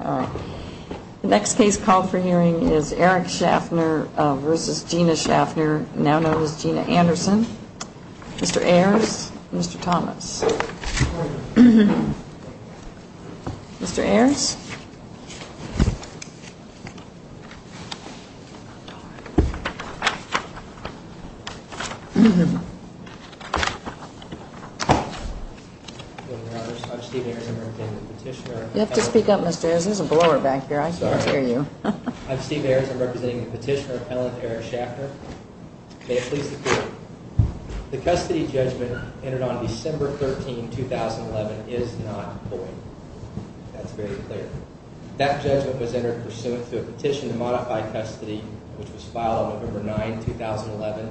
The next case called for hearing is Eric Schaffner v. Gina Shaffner, now known as Gina Anderson. Mr. Ayers, Mr. Thomas. Mr. Ayers. You have to speak up, Mr. Ayers. There's a blower back there. I can't hear you. I'm Steve Ayers. I'm representing the petitioner, Appellant Eric Schaffner. May it please the Court, The custody judgment entered on December 13, 2011 is not void. That's very clear. That judgment was entered pursuant to a petition to modify custody, which was filed on November 9, 2011,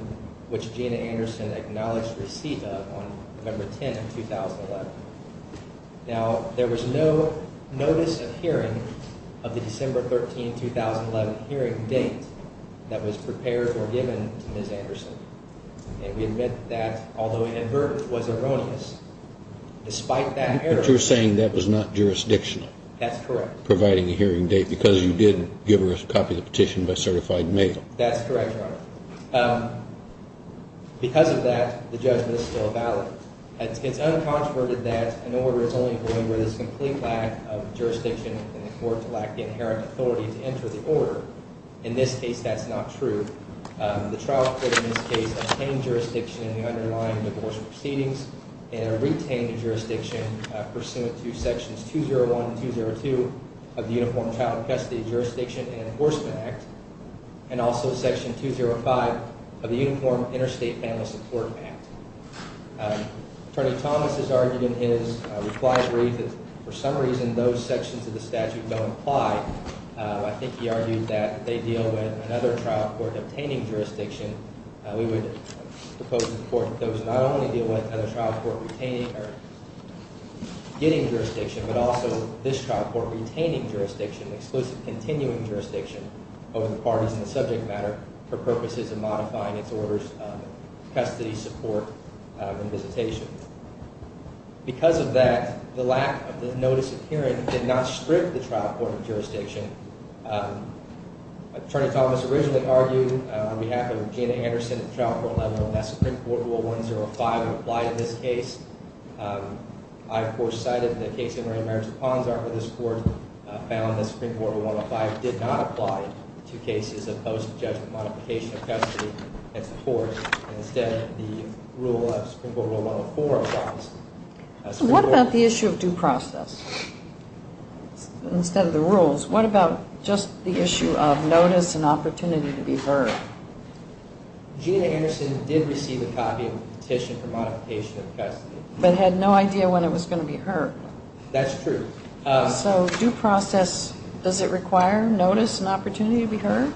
which Gina Anderson acknowledged receipt of on November 10, 2011. Now, there was no notice of hearing of the December 13, 2011 hearing date that was prepared or given to Ms. Anderson. And we admit that, although inadvertent, was erroneous, despite that error. But you're saying that was not jurisdictional? That's correct. Providing a hearing date because you didn't give her a copy of the petition by certified mail. That's correct, Your Honor. Because of that, the judgment is still valid. It's uncontroverted that an order is only void where there's complete lack of jurisdiction in the court to lack the inherent authority to enter the order. In this case, that's not true. The trial court in this case obtained jurisdiction in the underlying divorce proceedings and retained the jurisdiction pursuant to sections 201 and 202 of the Uniform Child and Custody Jurisdiction and Enforcement Act and also section 205 of the Uniform Interstate Family Support Act. Attorney Thomas has argued in his reply brief that, for some reason, those sections of the statute don't apply. I think he argued that if they deal with another trial court obtaining jurisdiction, we would propose to the court that those not only deal with another trial court getting jurisdiction, but also this trial court retaining jurisdiction, exclusive continuing jurisdiction over the parties in the subject matter for purposes of modifying its orders, custody, support, and visitation. Because of that, the lack of the notice of hearing did not strip the trial court of jurisdiction. Attorney Thomas originally argued on behalf of Regina Anderson at the trial court level that Supreme Court Rule 105 would apply in this case. I, of course, cited the case of Mary Mary Ponsar where this court found that Supreme Court Rule 105 did not apply to cases of post-judgment modification of custody and support. Instead, the rule of Supreme Court Rule 104 applies. What about the issue of due process instead of the rules? What about just the issue of notice and opportunity to be heard? Regina Anderson did receive a copy of the Petition for Modification of Custody. But had no idea when it was going to be heard. That's true. So, due process, does it require notice and opportunity to be heard?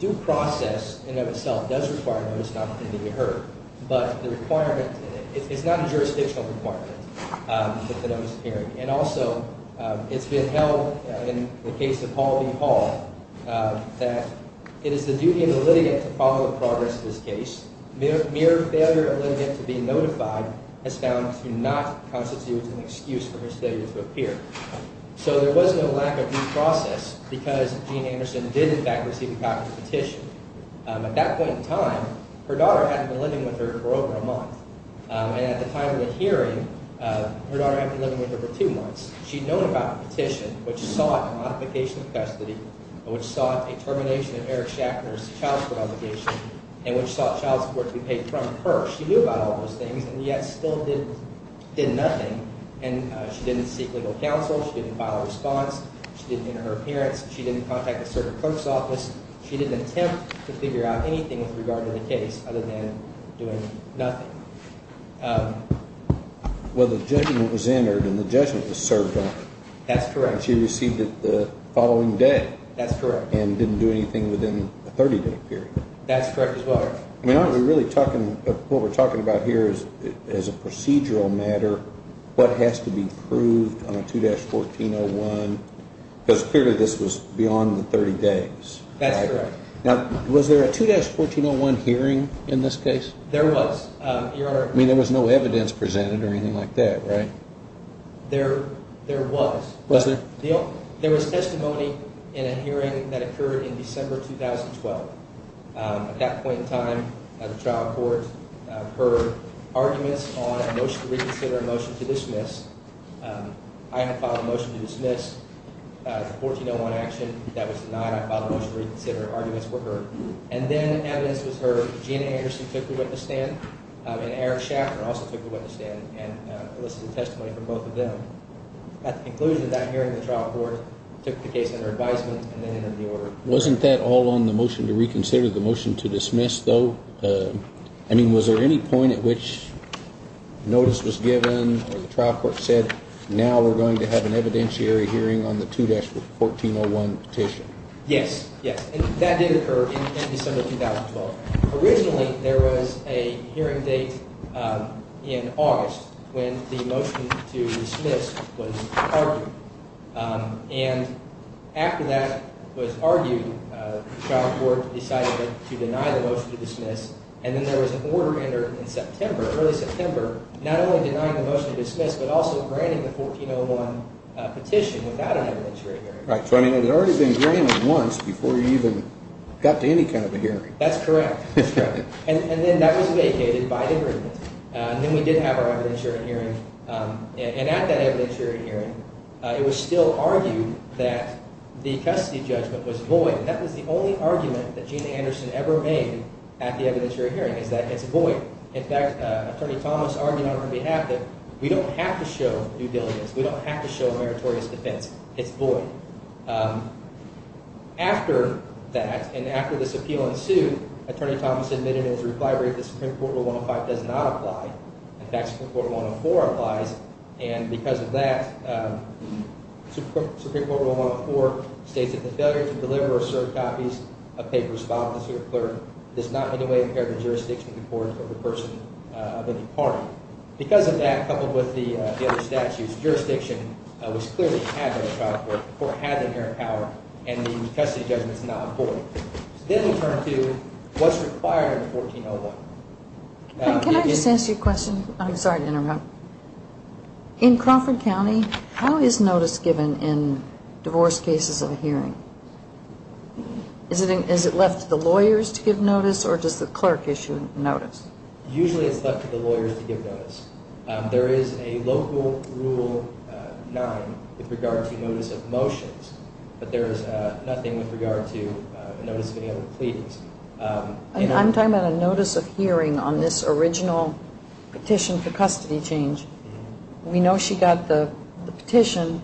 Due process, in and of itself, does require notice and opportunity to be heard. But the requirement, it's not a jurisdictional requirement, the notice of hearing. And also, it's been held in the case of Hall v. Hall that it is the duty of the litigant to follow the progress of this case. Mere failure of the litigant to be notified is found to not constitute an excuse for his failure to appear. So, there was no lack of due process because Gina Anderson did, in fact, receive a copy of the petition. At that point in time, her daughter had been living with her for over a month. And at the time of the hearing, her daughter had been living with her for two months. She'd known about the petition, which sought a modification of custody, which sought a termination of Eric Schaffner's child support obligation, and which sought child support to be paid from her. She knew about all those things and yet still did nothing. And she didn't seek legal counsel. She didn't file a response. She didn't enter her appearance. She didn't contact a certain clerk's office. She didn't attempt to figure out anything with regard to the case other than doing nothing. Well, the judgment was entered and the judgment was served on her. That's correct. And she received it the following day. That's correct. And didn't do anything within a 30-day period. That's correct as well. I mean, aren't we really talking, what we're talking about here is a procedural matter. What has to be proved on a 2-1401? Because clearly this was beyond the 30 days. That's correct. Now, was there a 2-1401 hearing in this case? There was, Your Honor. I mean, there was no evidence presented or anything like that, right? There was. Was there? There was testimony in a hearing that occurred in December 2012. At that point in time, the trial court heard arguments on a motion to reconsider, a motion to dismiss. I had filed a motion to dismiss. The 1401 action that was denied, I filed a motion to reconsider. Arguments were heard. And then evidence was heard. Gina Anderson took the witness stand and Eric Schaffner also took the witness stand and elicited testimony from both of them. At the conclusion of that hearing, the trial court took the case under advisement and then entered the order. Wasn't that all on the motion to reconsider, the motion to dismiss, though? I mean, was there any point at which notice was given or the trial court said, now we're going to have an evidentiary hearing on the 2-1401 petition? Yes, yes. And that did occur in December 2012. Originally, there was a hearing date in August when the motion to dismiss was argued. And after that was argued, the trial court decided to deny the motion to dismiss. And then there was an order entered in September, early September, not only denying the motion to dismiss but also granting the 1401 petition without an evidentiary hearing. Right, so it had already been granted once before you even got to any kind of a hearing. That's correct. And then that was vacated by the agreement. And then we did have our evidentiary hearing. And at that evidentiary hearing, it was still argued that the custody judgment was void. And that was the only argument that Gina Anderson ever made at the evidentiary hearing is that it's void. In fact, Attorney Thomas argued on her behalf that we don't have to show due diligence. We don't have to show meritorious defense. It's void. After that and after this appeal ensued, Attorney Thomas admitted in his reply that Supreme Court Rule 105 does not apply. In fact, Supreme Court Rule 104 applies. And because of that, Supreme Court Rule 104 states that the failure to deliver or serve copies of papers filed to a clerk does not in any way impair the jurisdiction of the court or the person of the department. Because of that, coupled with the other statutes, jurisdiction was clearly had by the trial court. The court had the inherent power, and the custody judgment is not void. Then we turn to what's required in 1401. Can I just answer your question? I'm sorry to interrupt. In Crawford County, how is notice given in divorce cases of a hearing? Is it left to the lawyers to give notice, or does the clerk issue notice? Usually it's left to the lawyers to give notice. There is a local Rule 9 with regard to notice of motions. But there is nothing with regard to notice of any other pleadings. I'm talking about a notice of hearing on this original petition for custody change. We know she got the petition,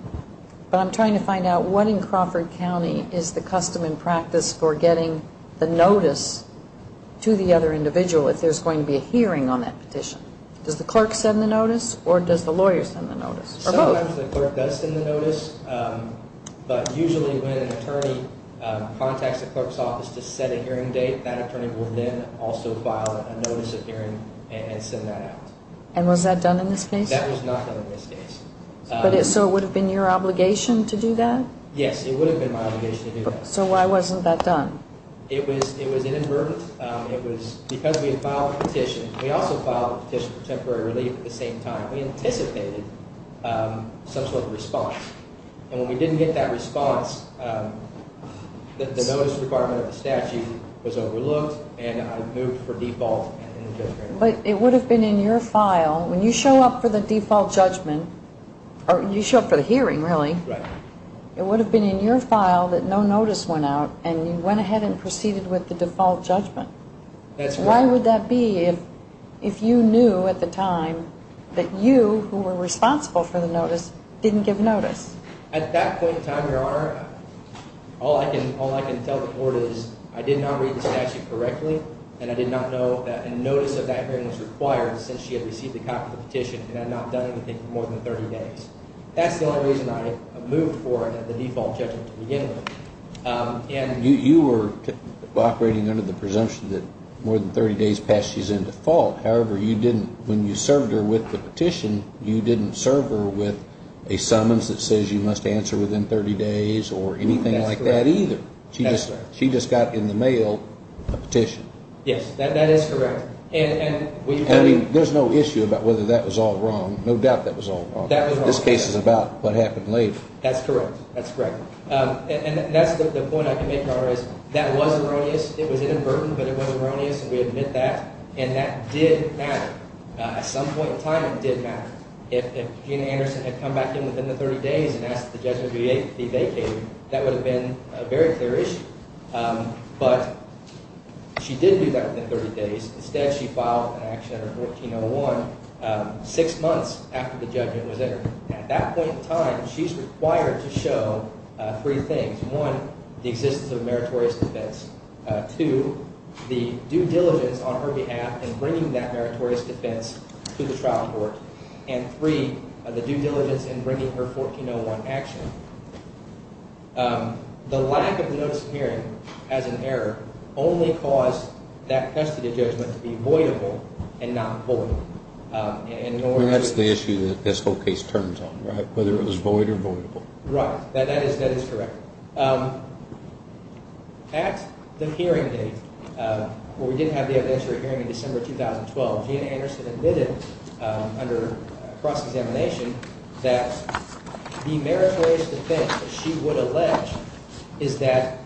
but I'm trying to find out what in Crawford County is the custom and practice for getting the notice to the other individual if there's going to be a hearing on that petition. Does the clerk send the notice, or does the lawyer send the notice, or both? Sometimes the clerk does send the notice, but usually when an attorney contacts the clerk's office to set a hearing date, that attorney will then also file a notice of hearing and send that out. And was that done in this case? That was not done in this case. So it would have been your obligation to do that? Yes, it would have been my obligation to do that. So why wasn't that done? It was inadvertent. Because we had filed a petition, we also filed a petition for temporary relief at the same time. We anticipated some sort of response. And when we didn't get that response, the notice requirement of the statute was overlooked, and I moved for default in the judgment. But it would have been in your file, when you show up for the default judgment, or you show up for the hearing, really, it would have been in your file that no notice went out, and you went ahead and proceeded with the default judgment. Why would that be if you knew at the time that you, who were responsible for the notice, didn't give notice? At that point in time, Your Honor, all I can tell the court is I did not read the statute correctly, and I did not know that a notice of that hearing was required since she had received a copy of the petition and had not done anything for more than 30 days. That's the only reason I moved for the default judgment to begin with. You were operating under the presumption that more than 30 days passed, she's in default. However, when you served her with the petition, you didn't serve her with a summons that says you must answer within 30 days or anything like that either. She just got in the mail a petition. Yes, that is correct. I mean, there's no issue about whether that was all wrong. No doubt that was all wrong. This case is about what happened later. That's correct. And that's the point I can make, Your Honor, is that was erroneous. It was inadvertent, but it was erroneous, and we admit that. And that did matter. At some point in time, it did matter. If Gina Anderson had come back in within the 30 days and asked that the judgment be vacated, that would have been a very clear issue. But she did do that within 30 days. Instead, she filed an action under 1401 six months after the judgment was entered. At that point in time, she's required to show three things. One, the existence of meritorious defense. Two, the due diligence on her behalf in bringing that meritorious defense to the trial court. And three, the due diligence in bringing her 1401 action. The lack of notice of hearing as an error only caused that custody judgment to be voidable and not voidable. That's the issue that this whole case turns on, right, whether it was void or voidable. Right. That is correct. At the hearing date, where we did have the adventure of hearing in December 2012, Gina Anderson admitted under cross-examination that the meritorious defense that she would allege is that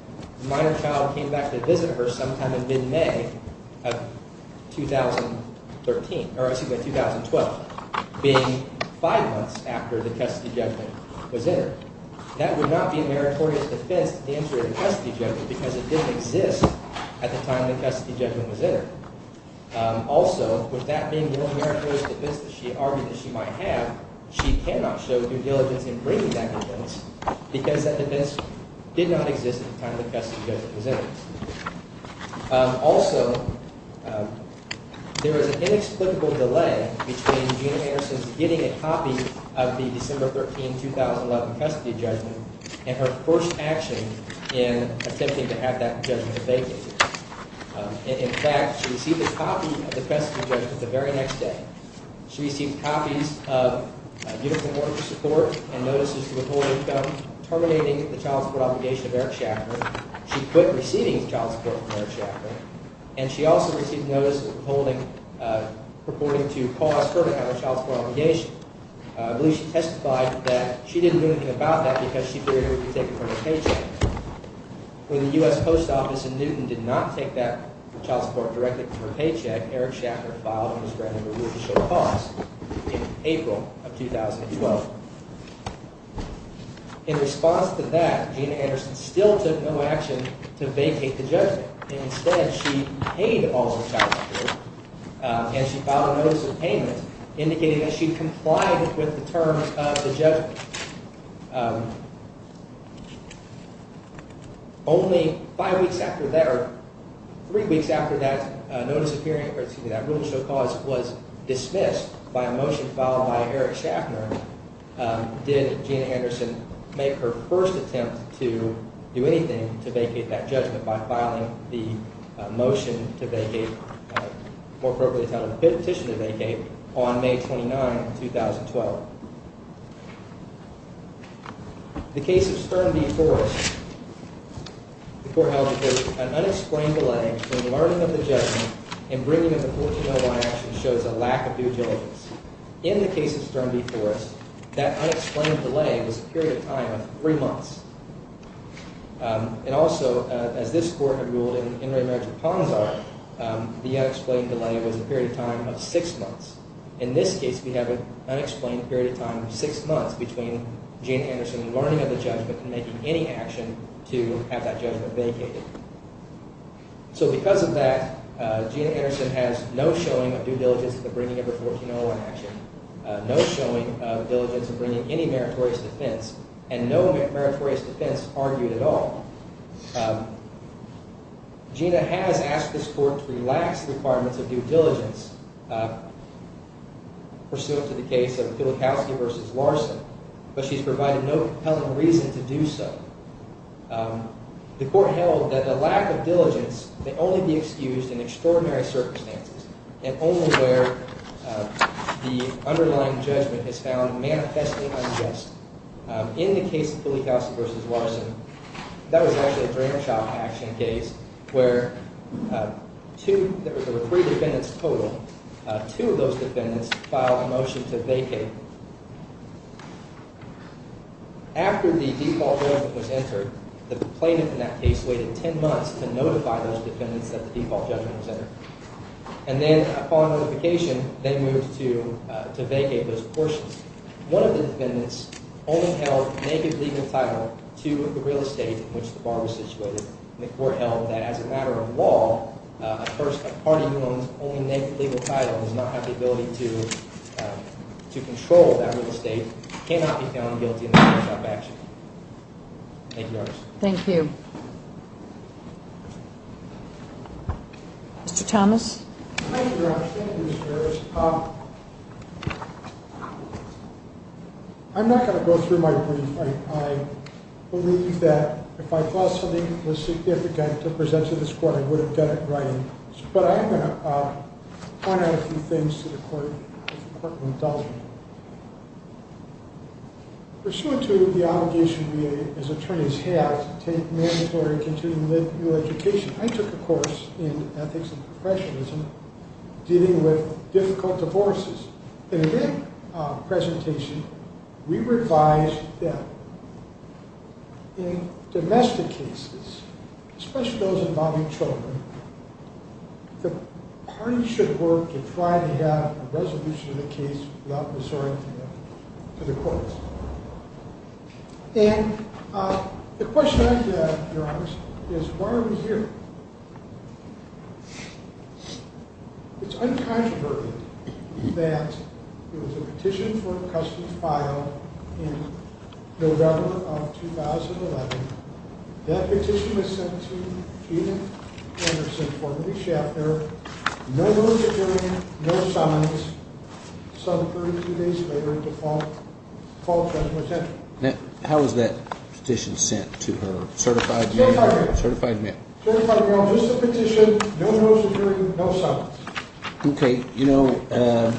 the minor child came back to visit her sometime in mid-May of 2013, or excuse me, 2012, being five months after the custody judgment was entered. That would not be a meritorious defense to answer the custody judgment because it didn't exist at the time the custody judgment was entered. Also, with that being the meritorious defense that she argued that she might have, she cannot show due diligence in bringing that defense because that defense did not exist at the time the custody judgment was entered. Also, there is an inexplicable delay between Gina Anderson getting a copy of the December 13, 2011 custody judgment and her first action in attempting to have that judgment vacated. In fact, she received a copy of the custody judgment the very next day. She received copies of Uniform Order of Support and notices for withholding from terminating the child support obligation of Eric Schaffner. She quit receiving child support from Eric Schaffner. And she also received notice of withholding purporting to cause her to have a child support obligation. I believe she testified that she didn't do anything about that because she feared it would be taken from her paycheck. When the U.S. Post Office in Newton did not take that child support directly from her paycheck, Eric Schaffner filed and was granted a revocable cause in April of 2012. In response to that, Gina Anderson still took no action to vacate the judgment. Instead, she paid all of her child support and she filed a notice of payment indicating that she complied with the terms of the judgment. Only five weeks after that or three weeks after that notice of hearing or excuse me, that rule of show cause was dismissed by a motion filed by Eric Schaffner, did Gina Anderson make her first attempt to do anything to vacate that judgment by filing the motion to vacate, more appropriately titled Petition to Vacate, on May 29, 2012. The case of Stern v. Forrest, the court held that an unexplained delay in learning of the judgment and bringing it before the Nobel Action shows a lack of due diligence. In the case of Stern v. Forrest, that unexplained delay was a period of time of three months. And also, as this court had ruled in In Re Marriage of Ponzar, the unexplained delay was a period of time of six months. In this case, we have an unexplained period of time of six months between Gina Anderson learning of the judgment and making any action to have that judgment vacated. So because of that, Gina Anderson has no showing of due diligence in the bringing of her 1401 action, no showing of diligence in bringing any meritorious defense, and no meritorious defense argued at all. Gina has asked this court to relax the requirements of due diligence pursuant to the case of Filikowsky v. Larson, but she's provided no compelling reason to do so. The court held that the lack of diligence may only be excused in extraordinary circumstances and only where the underlying judgment is found manifestly unjust. In the case of Filikowsky v. Larson, that was actually a Dramashock action case where two – there were three defendants total. Two of those defendants filed a motion to vacate. After the default judgment was entered, the plaintiff in that case waited ten months to notify those defendants that the default judgment was entered. And then upon notification, they moved to vacate those portions. One of the defendants only held naked legal title to the real estate in which the bar was situated, and the court held that as a matter of law, a party who owns only naked legal title does not have the ability to control that real estate, cannot be found guilty in the Dramashock action. Thank you, Your Honor. Thank you. Mr. Thomas. Thank you, Your Honor. Thank you, Ms. Harris. I'm not going to go through my brief. I believe that if I thought something was significant to present to this court, I would have done it right. But I am going to point out a few things to the court if the court will indulge me. Pursuant to the obligation we as attorneys have to take mandatory and continuing legal education, I took a course in ethics and professionalism dealing with difficult divorces. And in that presentation, we were advised that in domestic cases, especially those involving children, the party should work to try to have a resolution of the case without resorting to the courts. And the question I have, Your Honor, is why are we here? It's uncontroversial that there was a petition for custody filed in November of 2011. That petition was sent to Edith Anderson, Courtney Schaffner, no notice of hearing, no silence, some 32 days later at the fall judgment session. How was that petition sent to her? Certified mail. Certified mail. Certified mail, just the petition, no notice of hearing, no silence. Okay, you know,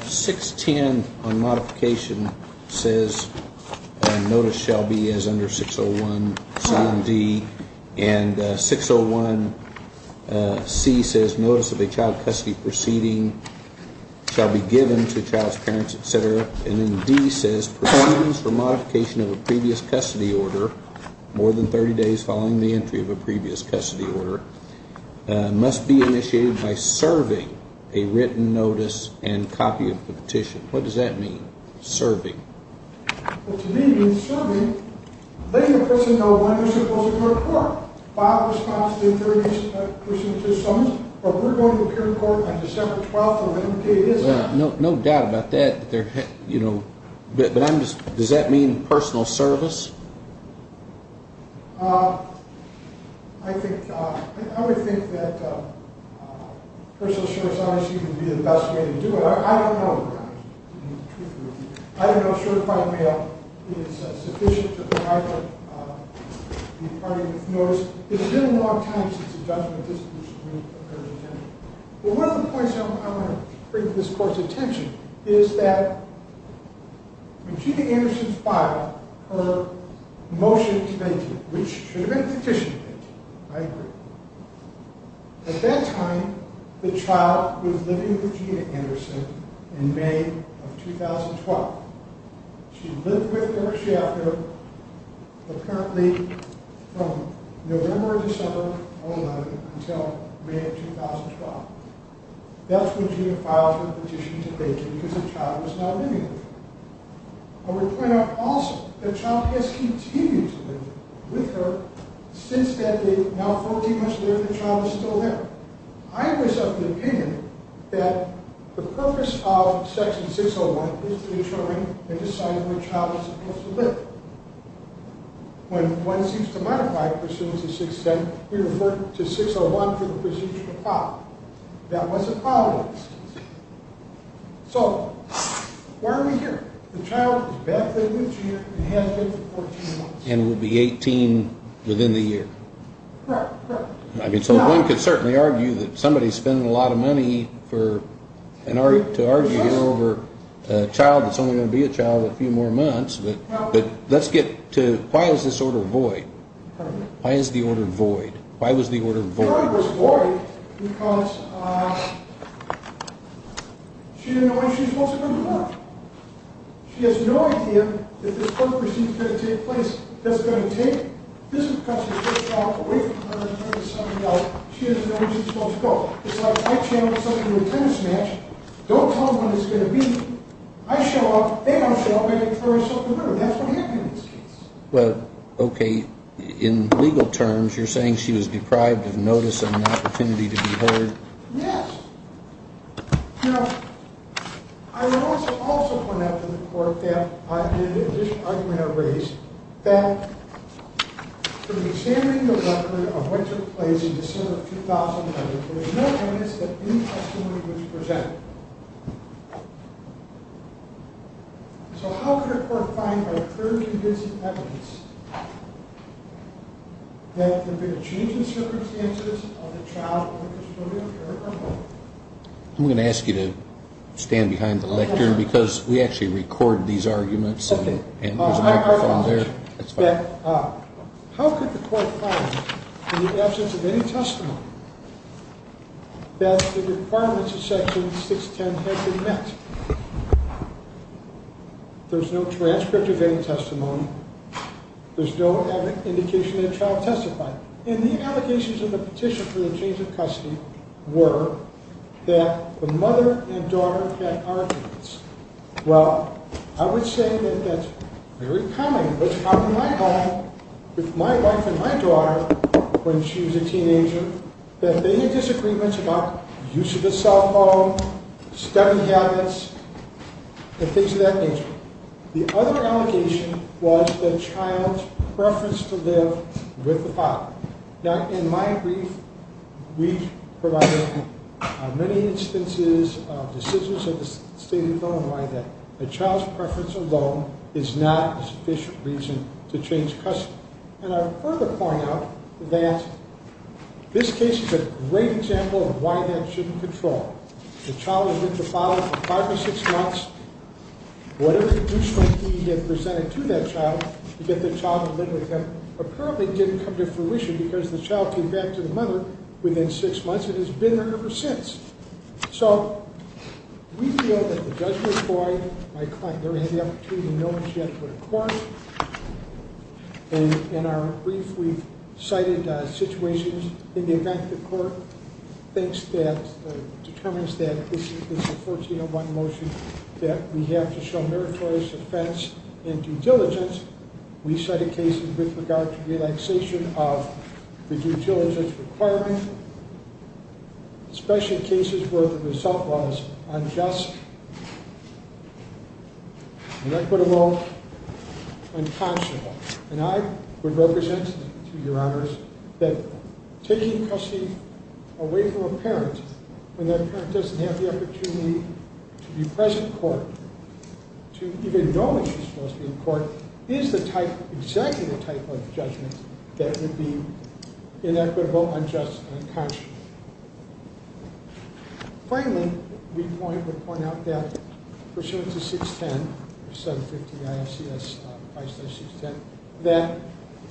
610 on modification says notice shall be as under 601C and D. And 601C says notice of a child custody proceeding shall be given to child's parents, et cetera. And then D says proceedings for modification of a previous custody order, more than 30 days following the entry of a previous custody order, must be initiated by serving a written notice and copy of the petition. What does that mean, serving? To me, it means serving. Letting the person know when they're supposed to appear in court. Filed responsibly 30 days after the petition was submitted. But we're going to appear in court on December 12th and we're going to indicate it is that. No doubt about that. But I'm just, does that mean personal service? I think, I would think that personal service honestly would be the best way to do it. I don't know. I don't know if certified mail is sufficient to provide the party with notice. It's been a long time since the judgment of this court's intention. But one of the points I want to bring to this court's attention is that when Gina Anderson filed her motion to make it, which should have been a petition to make it. I agree. At that time, the child was living with Gina Anderson in May of 2012. She lived with her shelter apparently from November or December of 2011 until May of 2012. That's when Gina filed her petition to make it because the child was not living with her. I would point out also that the child has continued to live with her since that date. Now 14 months later, the child is still there. I raise up the opinion that the purpose of Section 601 is to determine and decide where the child is supposed to live. When one seems to modify Procedure 610, we refer to 601 for the Procedure of Power. That was a problem. So why are we here? The child is back within the year and has been for 14 months. And will be 18 within the year. Correct. So one could certainly argue that somebody is spending a lot of money to argue here over a child that's only going to be a child a few more months. But let's get to why is this order void? Pardon me? Why is the order void? Why was the order void? The order was void because she didn't know where she was supposed to go to work. She has no idea that this court proceed is going to take place. That's going to take physical custody away from her. She doesn't know where she's supposed to go. It's like I channel somebody to a tennis match. Don't tell them when it's going to be. I show up. They don't show up. I declare myself the winner. That's what happened in this case. Well, okay. In legal terms, you're saying she was deprived of notice and an opportunity to be heard? Yes. Now, I would also point out to the court that this argument I raised, that from examining the record of what took place in December of 2000, there was no evidence that any custody was presented. So how could a court find by third-degree evidence that there had been a change in circumstances of the child under the custodial care of her mother? I'm going to ask you to stand behind the lectern because we actually record these arguments and there's a microphone there. Okay. That the requirements of Section 610 had been met. There's no transcript of any testimony. There's no indication that a child testified. And the allegations of the petition for the change of custody were that the mother and daughter had arguments. Well, I would say that that's very common. It was common in my home with my wife and my daughter when she was a teenager that they had disagreements about use of the cell phone, study habits, and things of that nature. The other allegation was the child's preference to live with the father. Now, in my brief, we provided many instances of decisions of the state of Illinois that a child's preference alone is not a sufficient reason to change custody. And I further point out that this case is a great example of why that shouldn't control. The child has lived with the father for five or six months. Whatever inducement he had presented to that child to get the child to live with him apparently didn't come to fruition because the child came back to the mother within six months and has been there ever since. So, we feel that the judge was quiet. My client never had the opportunity to know what she had to put in court. In our brief, we've cited situations in the event the court thinks that, determines that this is a 1401 motion that we have to show meritorious offense and due diligence. We cited cases with regard to relaxation of the due diligence requirement, especially cases where the result was unjust, inequitable, unconscionable. And I would represent, to your honors, that taking custody away from a parent when that parent doesn't have the opportunity to be present in court, to even know when she's supposed to be in court, is the type, exactly the type of judgment that would be inequitable, unjust, and unconscionable. Finally, we point out that, pursuant to 610, that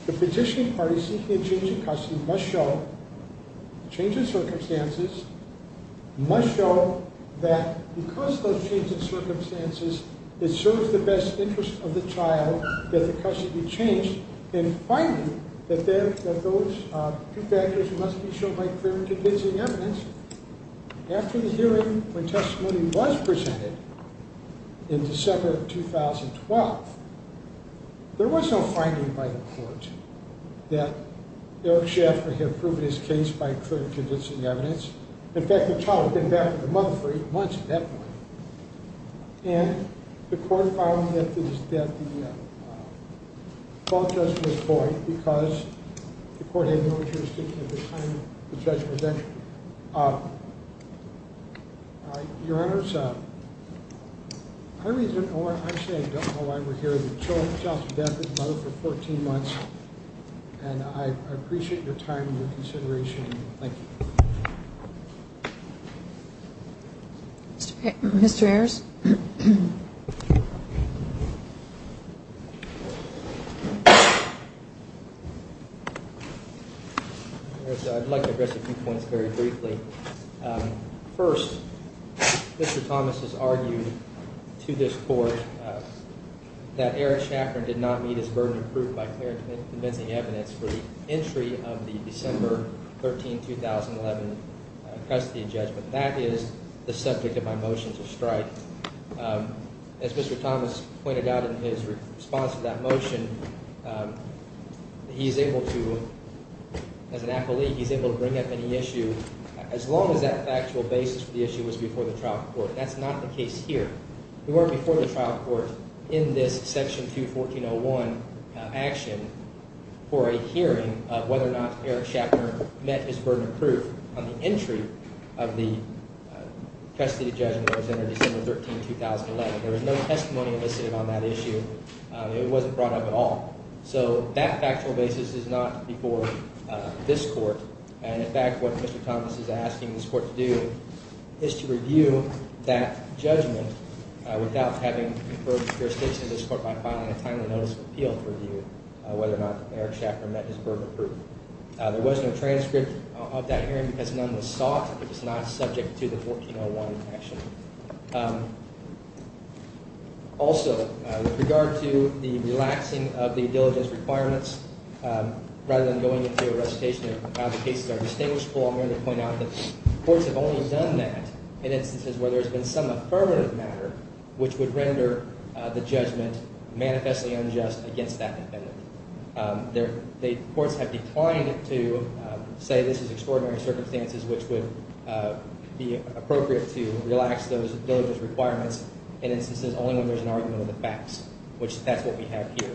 the petitioning party seeking a change in custody must show changes in circumstances, must show that because of those changes in circumstances, it serves the best interest of the child that the custody be changed. And finally, that those two factors must be shown by clear and convincing evidence. After the hearing, when testimony was presented in December of 2012, there was no finding by the court that Eric Shaffer had proven his case by clear and convincing evidence. In fact, the child had been back with the mother for eight months at that point. And the court found that the fault does report, because the court had no jurisdiction at the time the judge was there. Your honors, I'm saying I don't know why we're here, but the child's been back with the mother for 14 months, and I appreciate your time and your consideration. Thank you. Mr. Harris. Mr. Harris, I'd like to address a few points very briefly. First, Mr. Thomas has argued to this court that Eric Shaffer did not meet his burden of proof by clear and convincing evidence for the entry of the December 13, 2011, custody judgment. That is the subject of my motion to strike. As Mr. Thomas pointed out in his response to that motion, he's able to, as an appealee, he's able to bring up any issue as long as that factual basis for the issue was before the trial court. That's not the case here. It weren't before the trial court in this Section 214.01 action for a hearing of whether or not Eric Shaffer met his burden of proof on the entry of the custody judgment that was entered December 13, 2011. There was no testimony elicited on that issue. It wasn't brought up at all. So that factual basis is not before this court. And, in fact, what Mr. Thomas is asking this court to do is to review that judgment without having conferred jurisdiction to this court by filing a timely notice of appeal to review whether or not Eric Shaffer met his burden of proof. There was no transcript of that hearing because none was sought. It was not subject to the 14.01 action. Also, with regard to the relaxing of the diligence requirements, rather than going into a recitation of how the cases are distinguished, Paul, I'm going to point out that courts have only done that in instances where there's been some affirmative matter which would render the judgment manifestly unjust against that defendant. Courts have declined to say this is extraordinary circumstances which would be appropriate to relax those diligence requirements in instances only when there's an argument of the facts, which that's what we have here.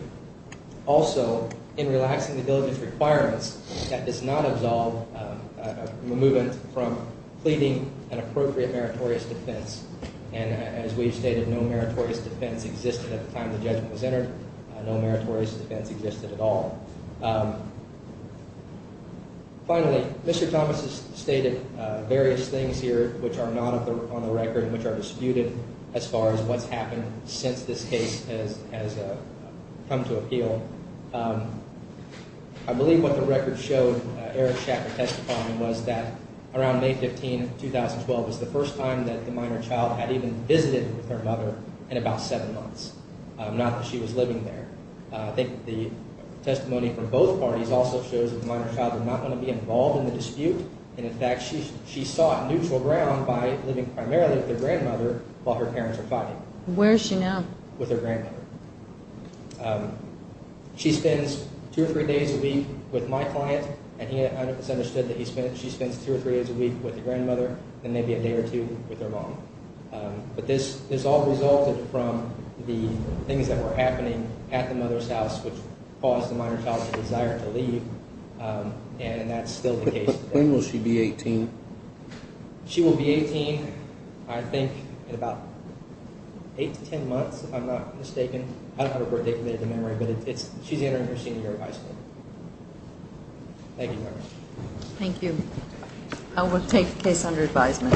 Also, in relaxing the diligence requirements, that does not absolve a movement from pleading an appropriate meritorious defense. And as we've stated, no meritorious defense existed at the time the judgment was entered. No meritorious defense existed at all. Finally, Mr. Thomas has stated various things here which are not on the record and which are disputed as far as what's happened since this case has come to appeal. I believe what the record showed, Eric Shacker testifying, was that around May 15, 2012 was the first time that the minor child had even visited with her mother in about seven months, not that she was living there. I think the testimony from both parties also shows that the minor child was not going to be involved in the dispute. And, in fact, she sought neutral ground by living primarily with her grandmother while her parents were fighting. Where is she now? With her grandmother. She spends two or three days a week with my client, and it's understood that she spends two or three days a week with the grandmother and maybe a day or two with her mom. But this all resulted from the things that were happening at the mother's house, which caused the minor child's desire to leave, and that's still the case today. When will she be 18? She will be 18, I think, in about eight to ten months, if I'm not mistaken. I don't have her birthday committed to memory, but she's entering her senior year of high school. Thank you very much. Thank you. I will take the case under advisement.